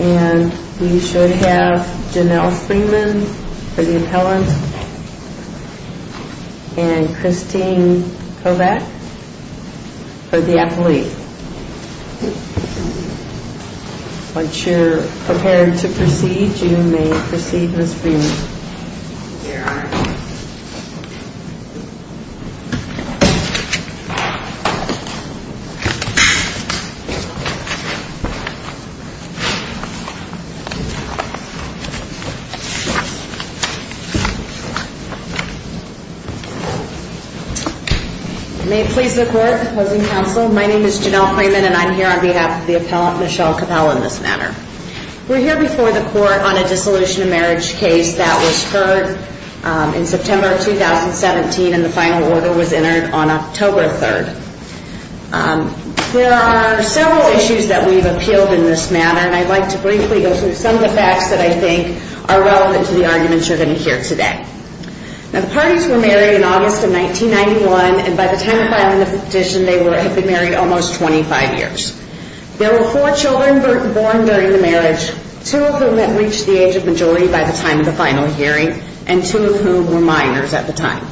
and we should have Janelle Freeman for the appellant and Christine Kovach for the athlete. Once you're prepared to proceed, you may proceed Ms. Freeman. May it please the court, opposing counsel, my name is Janelle Freeman and I'm here on behalf of the appellant Michelle Capelle in this matter. We're here before the court on a dissolution of marriage case that was heard in September of 2017 and the final order was entered on October 3rd. There are several issues that we've appealed in this matter and I'd like to briefly go through some of the facts that I think are relevant to the arguments you're going to hear today. The parties were married in August of 1991 and by the time of filing the petition they had been married almost 25 years. There were four children born during the marriage, two of whom had reached the age of majority by the time of the final hearing and two of whom were minors at the time.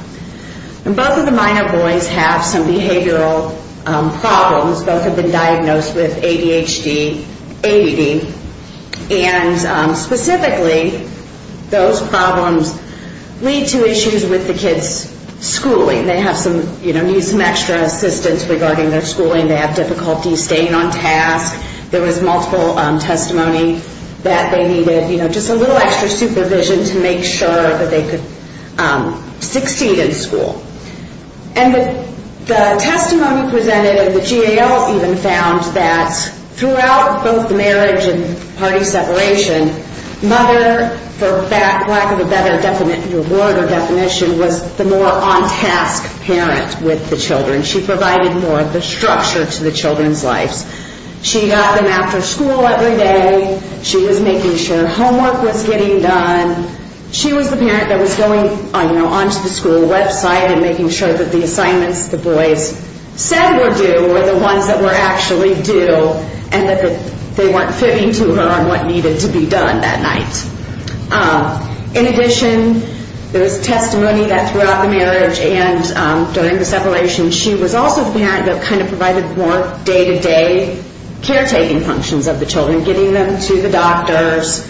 Both of the minor boys have some behavioral problems, both have been diagnosed with ADHD, ADD and specifically those problems lead to issues with the kids' schooling. They have some extra assistance regarding their schooling, they have difficulty staying on task. There was multiple testimony that they needed just a little extra supervision to make sure that they could succeed in school. And the testimony presented in the GAO even found that throughout both the marriage and party separation, mother for lack of a better word or definition was the more on task parent with the children. She provided more of the structure to the children's lives. She got them after school every day, she was making sure homework was getting done. She was the parent that was going onto the school website and making sure that the assignments the boys said were due were the ones that were actually due and that they weren't fitting to her on what needed to be done that night. In addition, there was testimony that throughout the marriage and during the separation, she was also the parent that kind of provided more day-to-day caretaking functions of the children. Getting them to the doctors,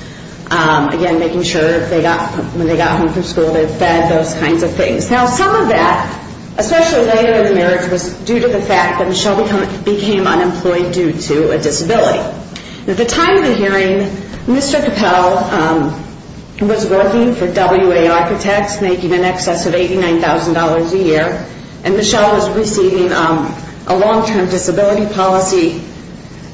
again making sure when they got home from school they were fed, those kinds of things. Now some of that, especially later in the marriage was due to the fact that Michelle became unemployed due to a disability. At the time of the hearing, Mr. Capel was working for WA Architects making in excess of $89,000 a year. And Michelle was receiving a long-term disability policy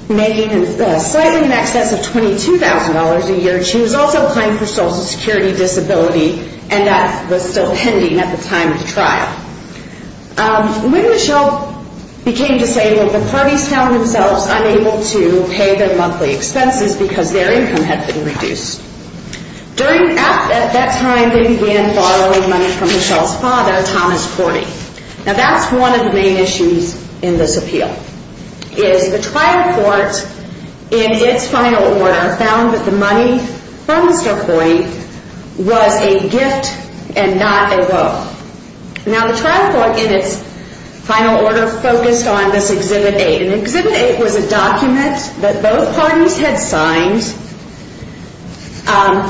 making slightly in excess of $22,000 a year. She was also applying for social security disability and that was still pending at the time of the trial. When Michelle became disabled, the parties found themselves unable to pay their monthly expenses because their income had been reduced. At that time, they began borrowing money from Michelle's father, Thomas Korty. Now that's one of the main issues in this appeal is the trial court in its final order found that the money from Mr. Korty was a gift and not a loan. Now the trial court in its final order focused on this Exhibit 8. And Exhibit 8 was a document that both parties had signed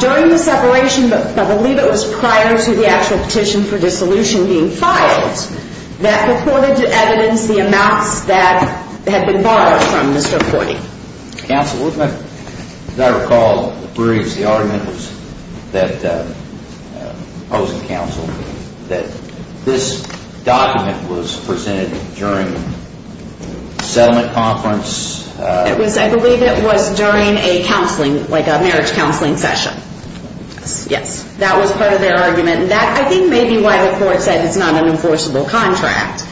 during the separation, but I believe it was prior to the actual petition for dissolution being filed, that before they did evidence the amounts that had been borrowed from Mr. Korty. Counsel, as I recall, the argument was that, opposing counsel, that this document was presented during settlement conference. It was, I believe it was during a counseling, like a marriage counseling session. Yes. That was part of their argument and that I think may be why the court said it's not an enforceable contract.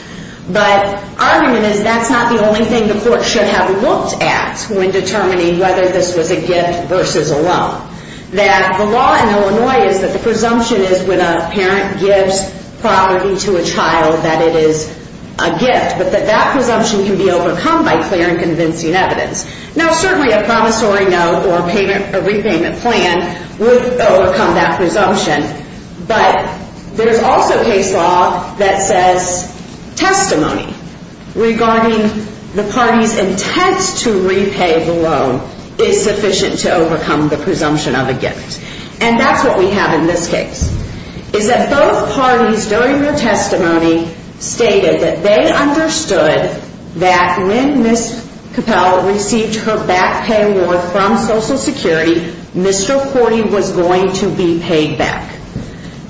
But argument is that's not the only thing the court should have looked at when determining whether this was a gift versus a loan. That the law in Illinois is that the presumption is when a parent gives property to a child that it is a gift, but that that presumption can be overcome by clear and convincing evidence. Now certainly a promissory note or repayment plan would overcome that presumption, but there's also case law that says testimony regarding the party's intent to repay the loan is sufficient to overcome the presumption of a gift. And that's what we have in this case. Is that both parties during their testimony stated that they understood that when Ms. Capel received her back pay award from Social Security, Mr. Cordy was going to be paid back.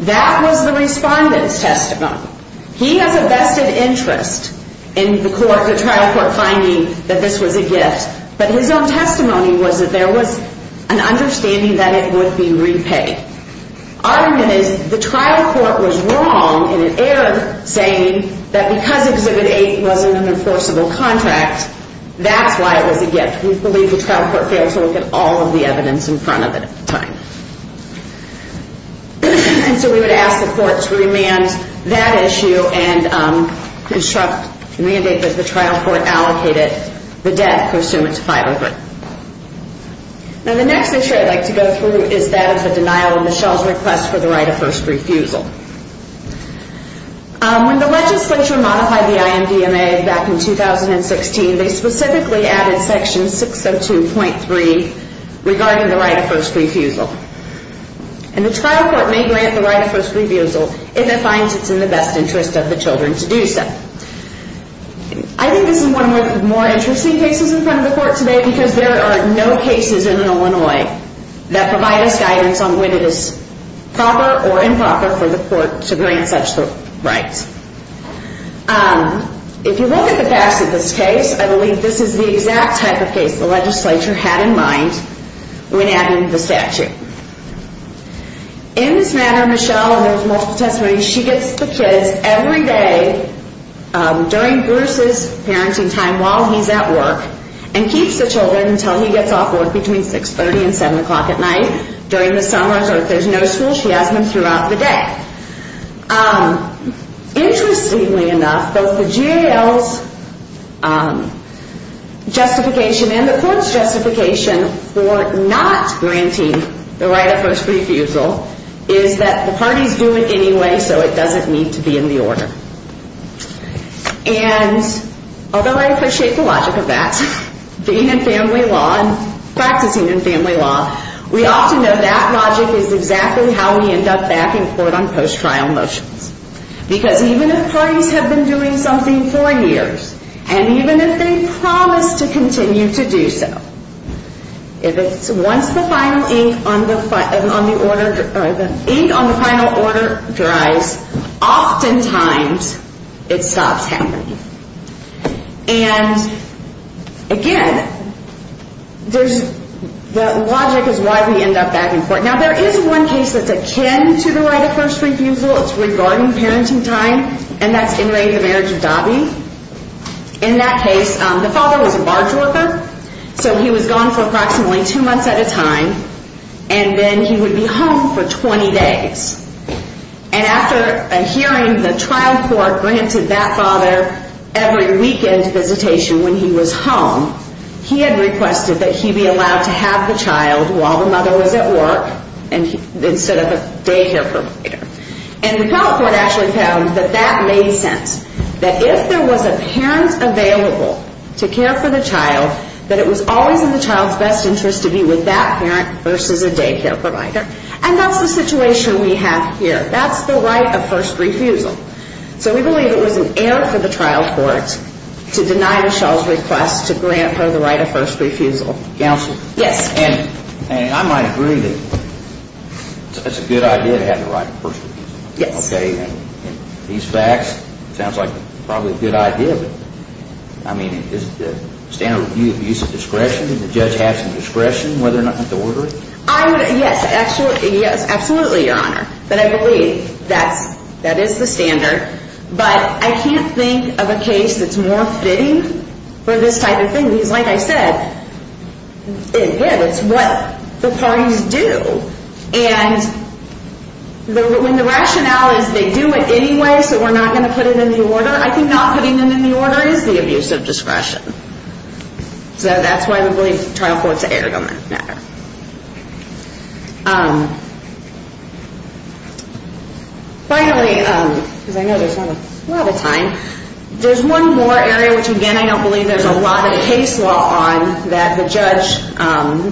That was the respondent's testimony. He has a vested interest in the trial court finding that this was a gift, but his own testimony was that there was an understanding that it would be repaid. Argument is the trial court was wrong in error saying that because Exhibit 8 wasn't an enforceable contract, that's why it was a gift. We believe the trial court failed to look at all of the evidence in front of it at the time. And so we would ask the court to remand that issue and construct the mandate that the trial court allocated the debt pursuant to 503. Now the next issue I'd like to go through is that of the denial of Michelle's request for the right of first refusal. When the legislature modified the IMDMA back in 2016, they specifically added Section 602.3 regarding the right of first refusal. And the trial court may grant the right of first refusal if it finds it's in the best interest of the children to do so. I think this is one of the more interesting cases in front of the court today because there are no cases in Illinois that provide us guidance on whether it is proper or improper for the court to grant such the right. If you look at the facts of this case, I believe this is the exact type of case the legislature had in mind when adding the statute. In this matter, Michelle, and there's multiple testimonies, she gets the kids every day during Bruce's parenting time while he's at work and keeps the children until he gets off work between 630 and 7 o'clock at night during the summer. So if there's no school, she has them throughout the day. Interestingly enough, both the GAO's justification and the court's justification for not granting the right of first refusal is that the parties do it anyway so it doesn't need to be in the order. And although I appreciate the logic of that, being in family law and practicing in family law, we often know that logic is exactly how we end up back in court on post-trial motions. Because even if parties have been doing something for years, and even if they promise to continue to do so, if it's once the final ink on the final order dries, oftentimes it stops happening. And again, the logic is why we end up back in court. Now there is one case that's akin to the right of first refusal. It's regarding parenting time, and that's in the marriage of Dobby. In that case, the father was a barge worker, so he was gone for approximately two months at a time, and then he would be home for 20 days. And after a hearing, the trial court granted that father every weekend visitation when he was home. He had requested that he be allowed to have the child while the mother was at work instead of a daycare provider. And the trial court actually found that that made sense, that if there was a parent available to care for the child, that it was always in the child's best interest to be with that parent versus a daycare provider. And that's the situation we have here. That's the right of first refusal. So we believe it was an error for the trial court to deny Michelle's request to grant her the right of first refusal. Counsel? Yes. And I might agree that it's a good idea to have the right of first refusal. Yes. Okay, and these facts, it sounds like probably a good idea, but, I mean, is the standard review of use of discretion? Did the judge have some discretion whether or not to order it? Yes, absolutely, Your Honor. But I believe that is the standard. But I can't think of a case that's more fitting for this type of thing, because, like I said, it is. It's what the parties do. And when the rationale is they do it anyway, so we're not going to put it in the order, I think not putting it in the order is the abuse of discretion. So that's why we believe the trial court's error doesn't matter. Finally, because I know there's not a lot of time, there's one more area which, again, I don't believe there's a lot of case law on that the judge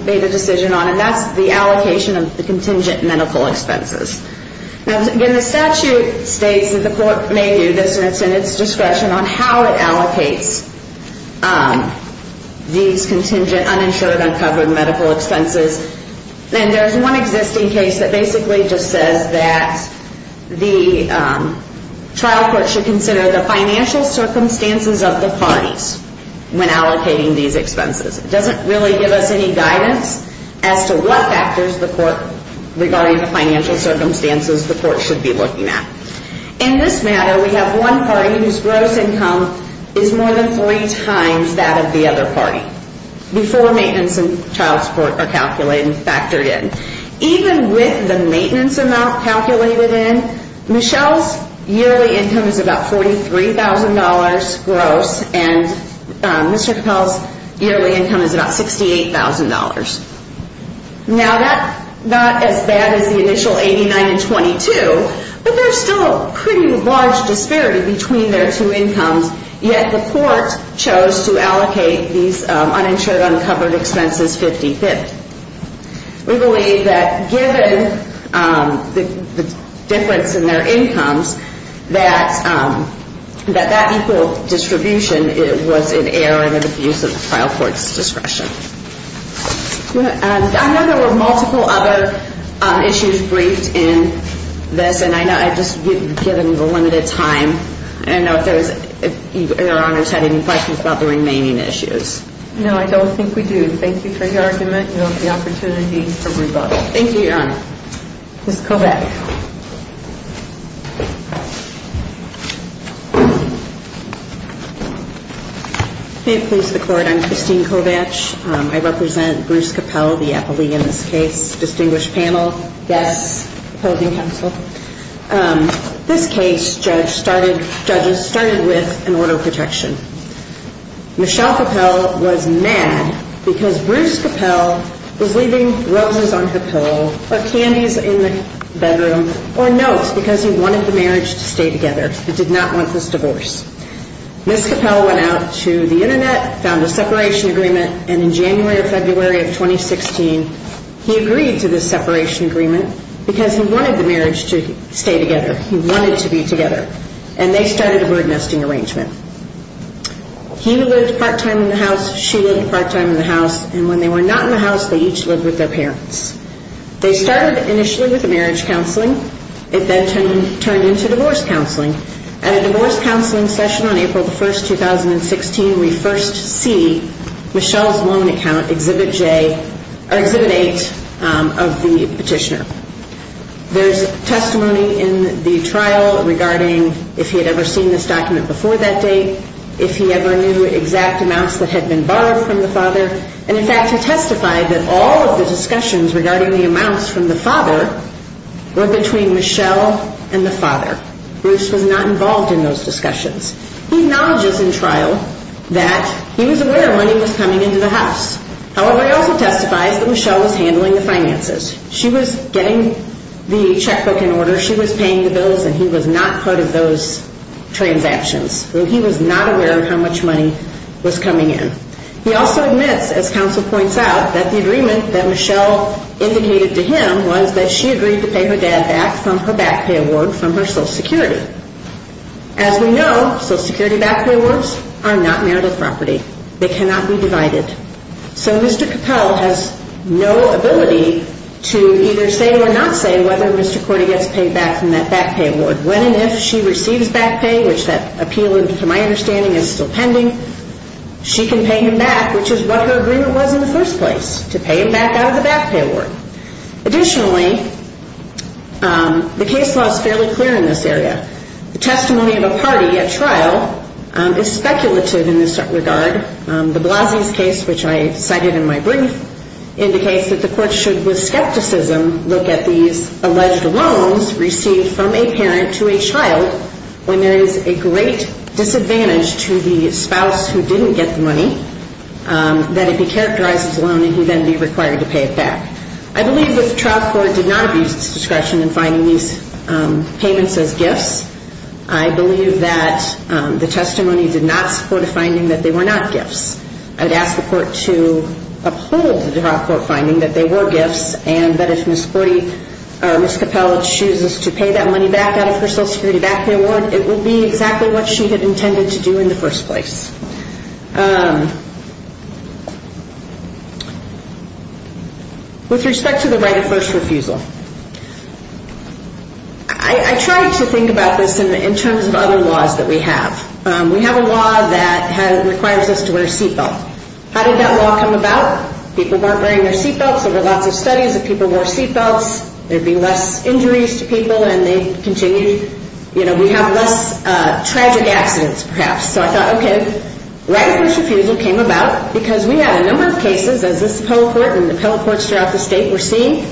made a decision on, and that's the allocation of the contingent medical expenses. Now, again, the statute states that the court may do this, and it's in its discretion on how it allocates these contingent uninsured, uncovered medical expenses. And there's one existing case that basically just says that the trial court should consider the financial circumstances of the parties when allocating these expenses. It doesn't really give us any guidance as to what factors the court, regarding the financial circumstances, the court should be looking at. In this matter, we have one party whose gross income is more than three times that of the other party, before maintenance and child support are calculated and factored in. Even with the maintenance amount calculated in, Michelle's yearly income is about $43,000 gross, and Mr. Capel's yearly income is about $68,000. Now, that's not as bad as the initial $89,000 and $22,000, but there's still a pretty large disparity between their two incomes, yet the court chose to allocate these uninsured, uncovered expenses 50-fifth. We believe that given the difference in their incomes, that that equal distribution was an error and an abuse of the trial court's discretion. I know there were multiple other issues briefed in this, and I know I've just given you a limited time, and I don't know if Your Honor's had any questions about the remaining issues. No, I don't think we do. Thank you for your argument, and I look forward to the opportunity for rebuttal. Thank you, Your Honor. Ms. Kovach. May it please the Court, I'm Christine Kovach. I represent Bruce Capel, the appellee in this case, distinguished panel, guests, opposing counsel. This case, judges, started with an order of protection. Michelle Capel was mad because Bruce Capel was leaving roses on her pillow or candies in the bedroom or notes because he wanted the marriage to stay together. He did not want this divorce. Ms. Capel went out to the Internet, found a separation agreement, and in January or February of 2016, he agreed to this separation agreement because he wanted the marriage to stay together. He wanted to be together. And they started a bird nesting arrangement. He lived part-time in the house, she lived part-time in the house, and when they were not in the house, they each lived with their parents. They started initially with the marriage counseling. It then turned into divorce counseling. At a divorce counseling session on April 1, 2016, we first see Michelle's loan account, Exhibit J, or Exhibit 8 of the petitioner. There's testimony in the trial regarding if he had ever seen this document before that date, if he ever knew exact amounts that had been borrowed from the father. And, in fact, he testified that all of the discussions regarding the amounts from the father were between Michelle and the father. Bruce was not involved in those discussions. He acknowledges in trial that he was aware money was coming into the house. However, he also testifies that Michelle was handling the finances. She was getting the checkbook in order, she was paying the bills, and he was not part of those transactions. He was not aware of how much money was coming in. He also admits, as counsel points out, that the agreement that Michelle indicated to him was that she agreed to pay her dad back from her back pay award from her Social Security. As we know, Social Security back pay awards are not marital property. They cannot be divided. So Mr. Capel has no ability to either say or not say whether Mr. Cordy gets paid back from that back pay award. When and if she receives back pay, which that appeal, to my understanding, is still pending, she can pay him back, which is what her agreement was in the first place, to pay him back out of the back pay award. Additionally, the case law is fairly clear in this area. The testimony of a party at trial is speculative in this regard. De Blasio's case, which I cited in my brief, indicates that the court should, with skepticism, look at these alleged loans received from a parent to a child when there is a great disadvantage to the spouse who didn't get the money, that it be characterized as a loan and he then be required to pay it back. I believe that the trial court did not abuse its discretion in finding these payments as gifts. I believe that the testimony did not support a finding that they were not gifts. I would ask the court to uphold the trial court finding that they were gifts and that if Ms. Capel chooses to pay that money back out of her Social Security back pay award, it will be exactly what she had intended to do in the first place. With respect to the right of first refusal, I tried to think about this in terms of other laws that we have. We have a law that requires us to wear a seatbelt. How did that law come about? People weren't wearing their seatbelts. There were lots of studies that people wore seatbelts. There'd be less injuries to people and they'd continue. We have less tragic accidents, perhaps. So I thought, okay, right of first refusal came about because we had a number of cases, as this appellate court and the appellate courts throughout the state were seeing,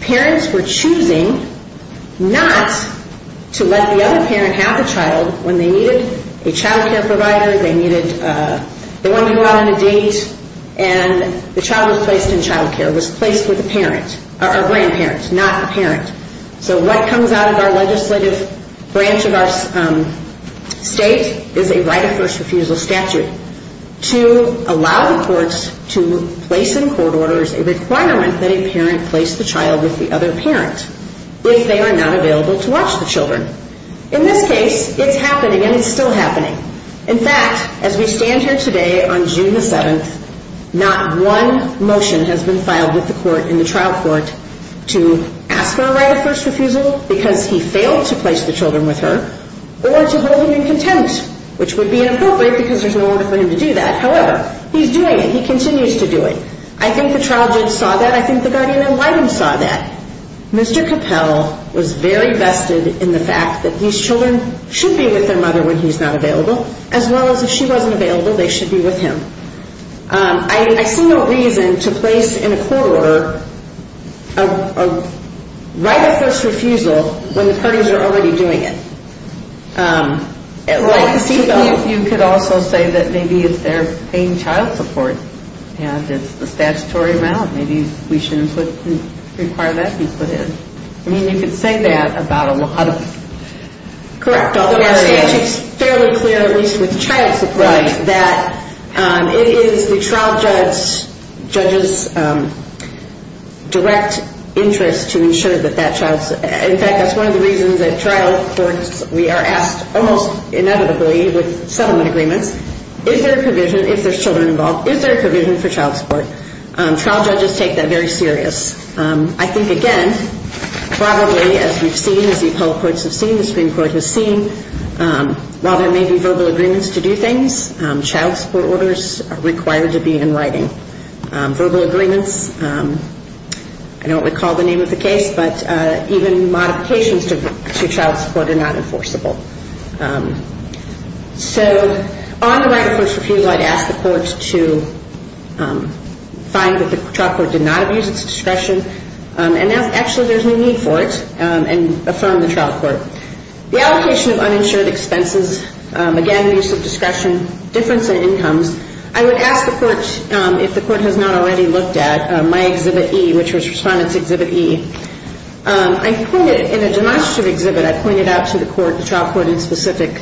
parents were choosing not to let the other parent have a child when they needed a child care provider, they wanted to go out on a date, and the child was placed in child care, was placed with a parent, or a grandparent, not a parent. So what comes out of our legislative branch of our state is a right of first refusal statute to allow the courts to place in court orders a requirement that a parent place the child with the other parent if they are not available to watch the children. In this case, it's happening and it's still happening. In fact, as we stand here today on June the 7th, not one motion has been filed with the court in the trial court to ask for a right of first refusal because he failed to place the children with her, or to hold him in contempt, which would be inappropriate because there's no order for him to do that. However, he's doing it. He continues to do it. I think the trial judge saw that. I think the guardian ad litem saw that. Mr. Capel was very vested in the fact that these children should be with their mother when he's not available, as well as if she wasn't available, they should be with him. I see no reason to place in a court order a right of first refusal when the parties are already doing it. Well, I can see that. You could also say that maybe they're paying child support and it's the statutory amount. Maybe we shouldn't require that to be put in. I mean, you could say that about a lot of areas. It's fairly clear, at least with child support, that it is the trial judge's direct interest to ensure that that child's... In fact, that's one of the reasons at trial courts we are asked almost inevitably with settlement agreements, is there a provision, if there's children involved, is there a provision for child support? Trial judges take that very serious. I think, again, probably as we've seen, as the appellate courts have seen, the Supreme Court has seen, while there may be verbal agreements to do things, child support orders are required to be in writing. Verbal agreements, I don't recall the name of the case, but even modifications to child support are not enforceable. So on the right of first refusal, I'd ask the courts to find that the trial court did not abuse its discretion, and actually there's no need for it, and affirm the trial court. The allocation of uninsured expenses, again, abuse of discretion, difference in incomes. I would ask the courts if the court has not already looked at my Exhibit E, which was Respondent's Exhibit E. I pointed, in a demonstrative exhibit, I pointed out to the court, the trial court specifically,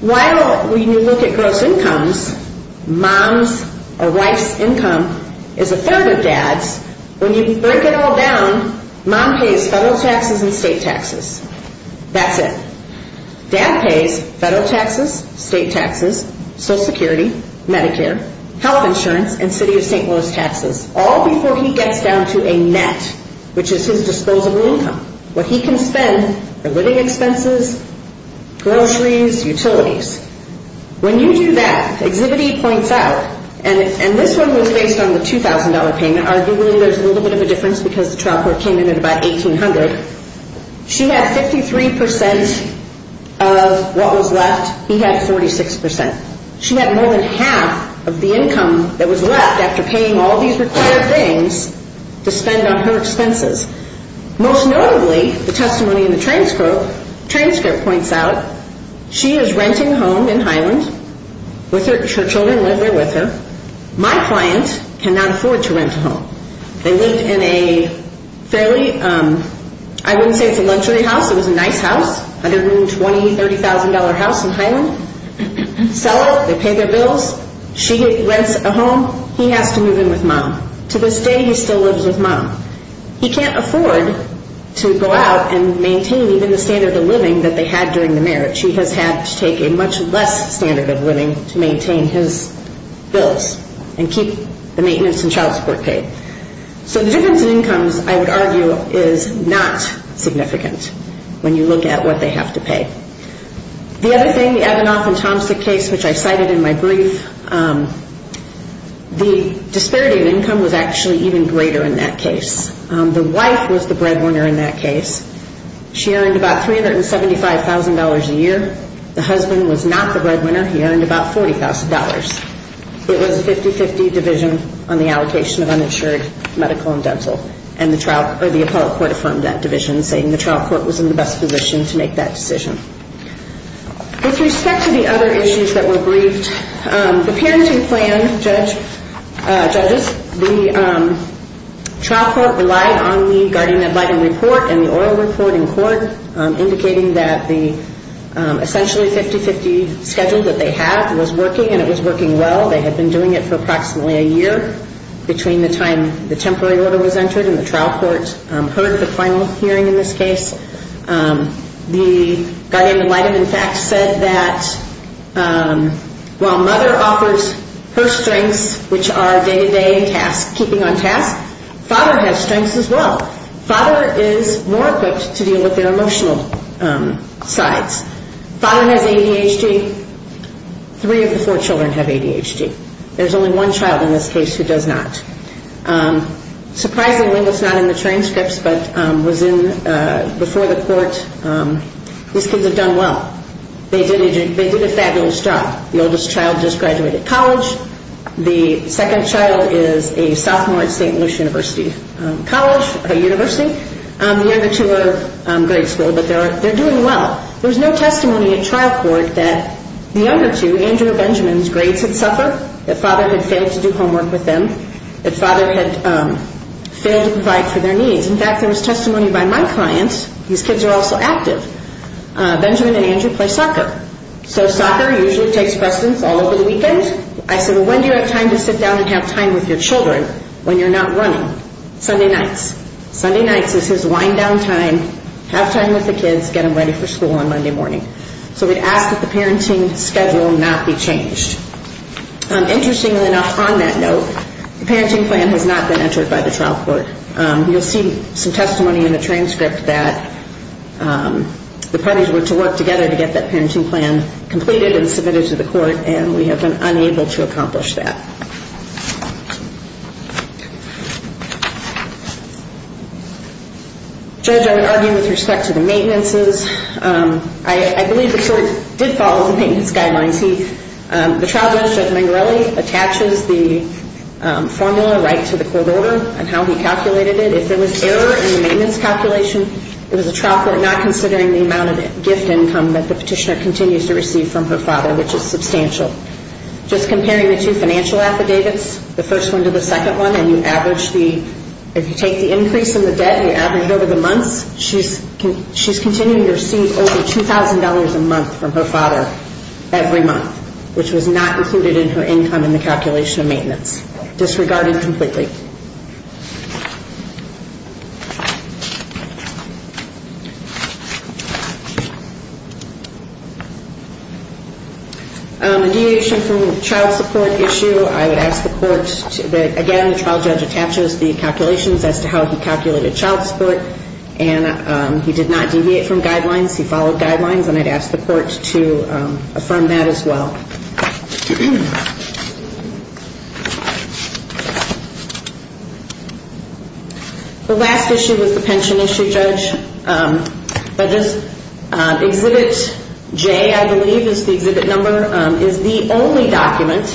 while when you look at gross incomes, mom's or wife's income is a third of dad's, when you break it all down, mom pays federal taxes and state taxes. That's it. Dad pays federal taxes, state taxes, Social Security, Medicare, health insurance, and City of St. Louis taxes, all before he gets down to a net, which is his disposable income. What he can spend are living expenses, groceries, utilities. When you do that, Exhibit E points out, and this one was based on the $2,000 payment. Arguably, there's a little bit of a difference because the trial court came in at about $1,800. She had 53% of what was left. He had 46%. She had more than half of the income that was left after paying all these required things to spend on her expenses. Most notably, the testimony in the transcript points out, she is renting a home in Highland. Her children live there with her. My client cannot afford to rent a home. They lived in a fairly, I wouldn't say it's a luxury house, it was a nice house, under-room $20,000, $30,000 house in Highland. Sell it. They pay their bills. She rents a home. He has to move in with Mom. To this day, he still lives with Mom. He can't afford to go out and maintain even the standard of living that they had during the marriage. He has had to take a much less standard of living to maintain his bills and keep the maintenance and child support paid. So the difference in incomes, I would argue, is not significant when you look at what they have to pay. The other thing, the Evanoff and Tomstick case, which I cited in my brief, the disparity in income was actually even greater in that case. The wife was the breadwinner in that case. She earned about $375,000 a year. The husband was not the breadwinner. He earned about $40,000. It was a 50-50 division on the allocation of uninsured medical and dental, and the appellate court affirmed that division, saying the trial court was in the best position to make that decision. With respect to the other issues that were briefed, the parenting plan judges, the trial court relied on the guardian ad litem report and the oral report in court, indicating that the essentially 50-50 schedule that they had was working, and it was working well. They had been doing it for approximately a year between the time the temporary order was entered and the trial court heard the final hearing in this case. The guardian ad litem, in fact, said that while mother offers her strengths, which are day-to-day tasks, keeping on task, father has strengths as well. Father is more equipped to deal with their emotional sides. Father has ADHD. Three of the four children have ADHD. There's only one child in this case who does not. Surprisingly, it's not in the transcripts, but was in before the court. These kids have done well. They did a fabulous job. The oldest child just graduated college. The second child is a sophomore at St. Louis University College, a university. The other two are grade school, but they're doing well. There's no testimony at trial court that the other two, Andrew and Benjamin's grades had suffered, that father had failed to do homework with them, that father had failed to provide for their needs. In fact, there was testimony by my clients. These kids are also active. Benjamin and Andrew play soccer. So soccer usually takes precedence all over the weekend. I said, well, when do you have time to sit down and have time with your children when you're not running? Sunday nights. Sunday nights is his wind-down time, have time with the kids, get them ready for school on Monday morning. So we'd ask that the parenting schedule not be changed. Interestingly enough, on that note, the parenting plan has not been entered by the trial court. You'll see some testimony in the transcript that the parties were to work together to get that parenting plan completed and submitted to the court, and we have been unable to accomplish that. Judge, I would argue with respect to the maintenances. I believe the court did follow the maintenance guidelines. The trial judge, Judge Mangarelli, attaches the formula right to the court order and how he calculated it. If there was error in the maintenance calculation, it was the trial court not considering the amount of gift income that the petitioner continues to receive from her father, which is substantial. Just comparing the two financial affidavits, the first one to the second one, and you average the – if you take the increase in the debt and you average it over the months, she's continuing to receive over $2,000 a month from her father every month, which was not included in her income in the calculation of maintenance. Disregarding completely. In relation to the child support issue, I would ask the court to – again, he did not deviate from guidelines. He followed guidelines, and I'd ask the court to affirm that as well. The last issue is the pension issue, Judge. Exhibit J, I believe, is the exhibit number, is the only document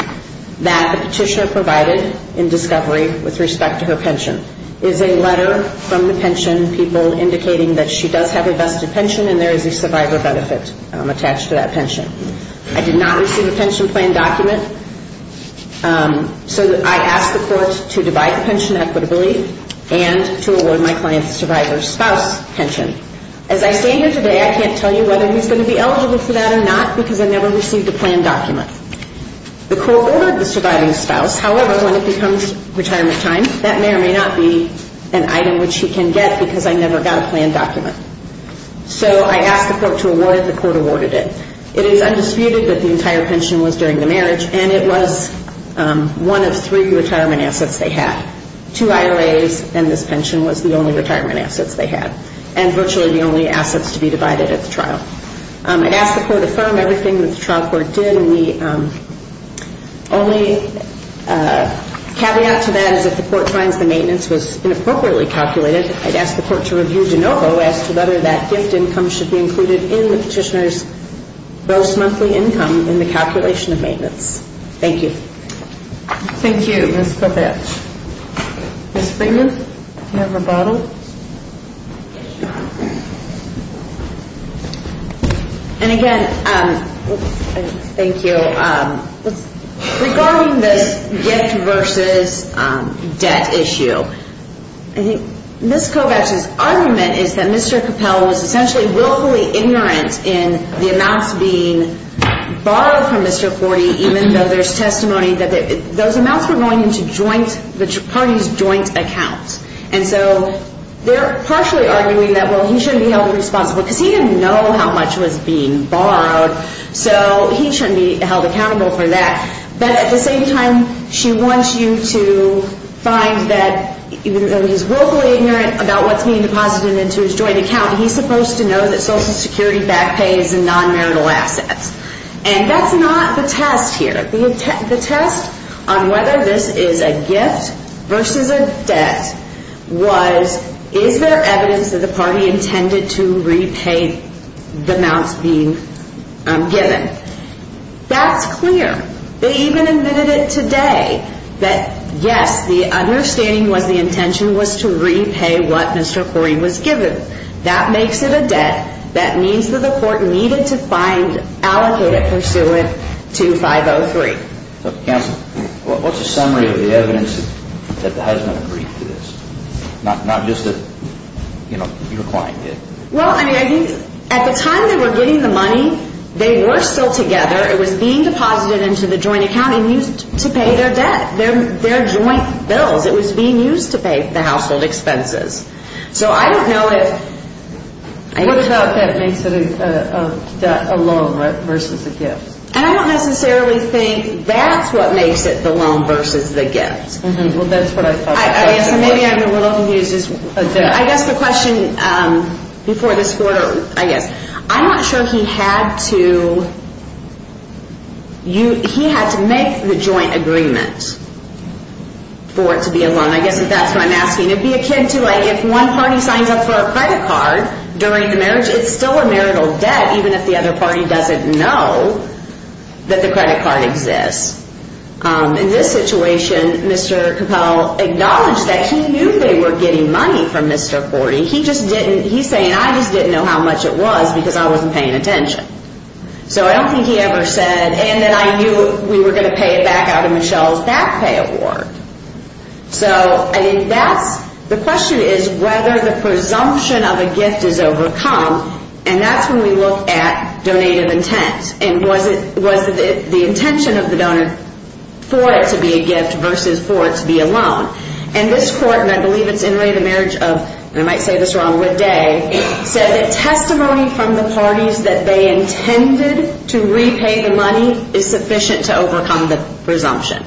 that the petitioner provided in discovery with respect to her pension. It is a letter from the pension people indicating that she does have a vested pension and there is a survivor benefit attached to that pension. I did not receive a pension plan document, so I ask the court to divide the pension equitably and to award my client's survivor spouse pension. As I stand here today, I can't tell you whether he's going to be eligible for that or not because I never received a plan document. The court ordered the surviving spouse. However, when it becomes retirement time, that may or may not be an item which he can get because I never got a plan document. So I ask the court to award it. The court awarded it. It is undisputed that the entire pension was during the marriage, and it was one of three retirement assets they had. Two IRAs and this pension was the only retirement assets they had and virtually the only assets to be divided at the trial. I'd ask the court to affirm everything that the trial court did. And the only caveat to that is if the court finds the maintenance was inappropriately calculated, I'd ask the court to review de novo as to whether that gift income should be included in the petitioner's gross monthly income in the calculation of maintenance. Thank you. Thank you, Ms. Kovach. Ms. Freeman, do you have a bottle? And, again, thank you. Regarding this gift versus debt issue, I think Ms. Kovach's argument is that Mr. Capel was essentially willfully ignorant in the amounts being borrowed from Mr. Forty, even though there's testimony that those amounts were going into the party's joint account. And so they're partially arguing that, well, he shouldn't be held responsible because he didn't know how much was being borrowed, so he shouldn't be held accountable for that. But at the same time, she wants you to find that even though he's willfully ignorant about what's being deposited into his joint account, he's supposed to know that Social Security back pays in non-marital assets. And that's not the test here. The test on whether this is a gift versus a debt was, is there evidence that the party intended to repay the amounts being given? That's clear. They even admitted it today that, yes, the understanding was the intention was to repay what Mr. Forty was given. That makes it a debt. That means that the court needed to find, allocate it, pursue it to 503. Counsel, what's the summary of the evidence that the husband agreed to this? Not just a, you know, your client did. Well, I mean, at the time they were getting the money, they were still together. It was being deposited into the joint account and used to pay their debt, their joint bills. It was being used to pay the household expenses. So I don't know if... What about that makes it a loan versus a gift? I don't necessarily think that's what makes it the loan versus the gift. Well, that's what I thought. I guess maybe I'm a little confused. I guess the question before this court, I guess, I'm not sure he had to, and I guess if that's what I'm asking, it would be akin to like if one party signs up for a credit card during the marriage, it's still a marital debt even if the other party doesn't know that the credit card exists. In this situation, Mr. Capel acknowledged that he knew they were getting money from Mr. Forty. He just didn't. He's saying, I just didn't know how much it was because I wasn't paying attention. So I don't think he ever said, and then I knew we were going to pay it back out of Michelle's back pay award. So I think that's... The question is whether the presumption of a gift is overcome, and that's when we look at donative intent and was the intention of the donor for it to be a gift versus for it to be a loan. And this court, and I believe it's in the marriage of, and I might say this wrong, Wood Day, said that testimony from the parties that they intended to repay the money is sufficient to overcome the presumption.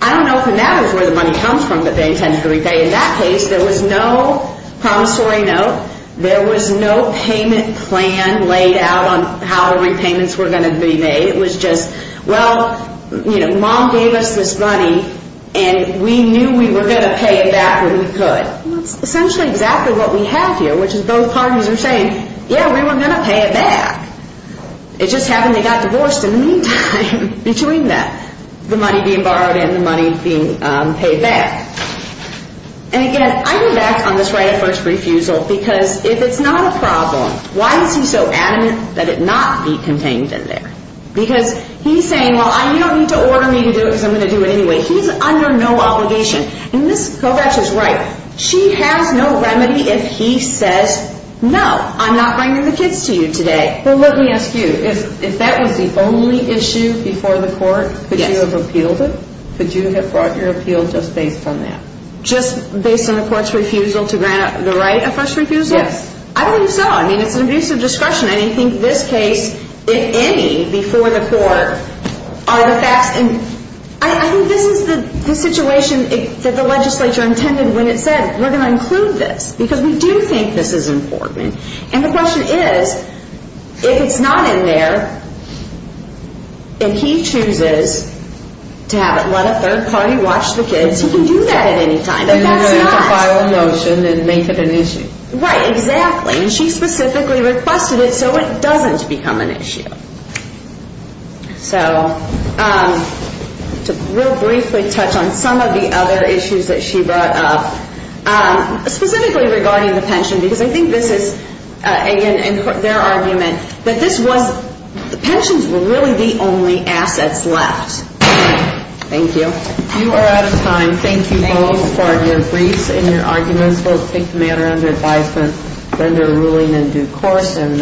I don't know if that is where the money comes from that they intended to repay. In that case, there was no promissory note. There was no payment plan laid out on how repayments were going to be made. It was just, well, you know, Mom gave us this money, and we knew we were going to pay it back when we could. That's essentially exactly what we have here, which is both parties are saying, yeah, we were going to pay it back. It just happened they got divorced in the meantime between that, the money being borrowed and the money being paid back. And, again, I'm back on this right of first refusal because if it's not a problem, why is he so adamant that it not be contained in there? Because he's saying, well, you don't need to order me to do it because I'm going to do it anyway. He's under no obligation. And Ms. Kovacs is right. She has no remedy if he says, no, I'm not bringing the kids to you today. Well, let me ask you, if that was the only issue before the court, could you have appealed it? Could you have brought your appeal just based on that? Just based on the court's refusal to grant the right of first refusal? Yes. I don't think so. I mean, it's an abuse of discretion. I don't think this case, in any, before the court are the facts. And I think this is the situation that the legislature intended when it said we're going to include this because we do think this is important. And the question is, if it's not in there and he chooses to have it, let a third party watch the kids, he can do that at any time. But that's not. And then he can file a motion and make it an issue. Right, exactly. And she specifically requested it so it doesn't become an issue. So to real briefly touch on some of the other issues that she brought up, specifically regarding the pension, because I think this is their argument that this was, the pensions were really the only assets left. Thank you. You are out of time. Thank you both for your briefs and your arguments. Both take the matter under advisement, render a ruling in due course.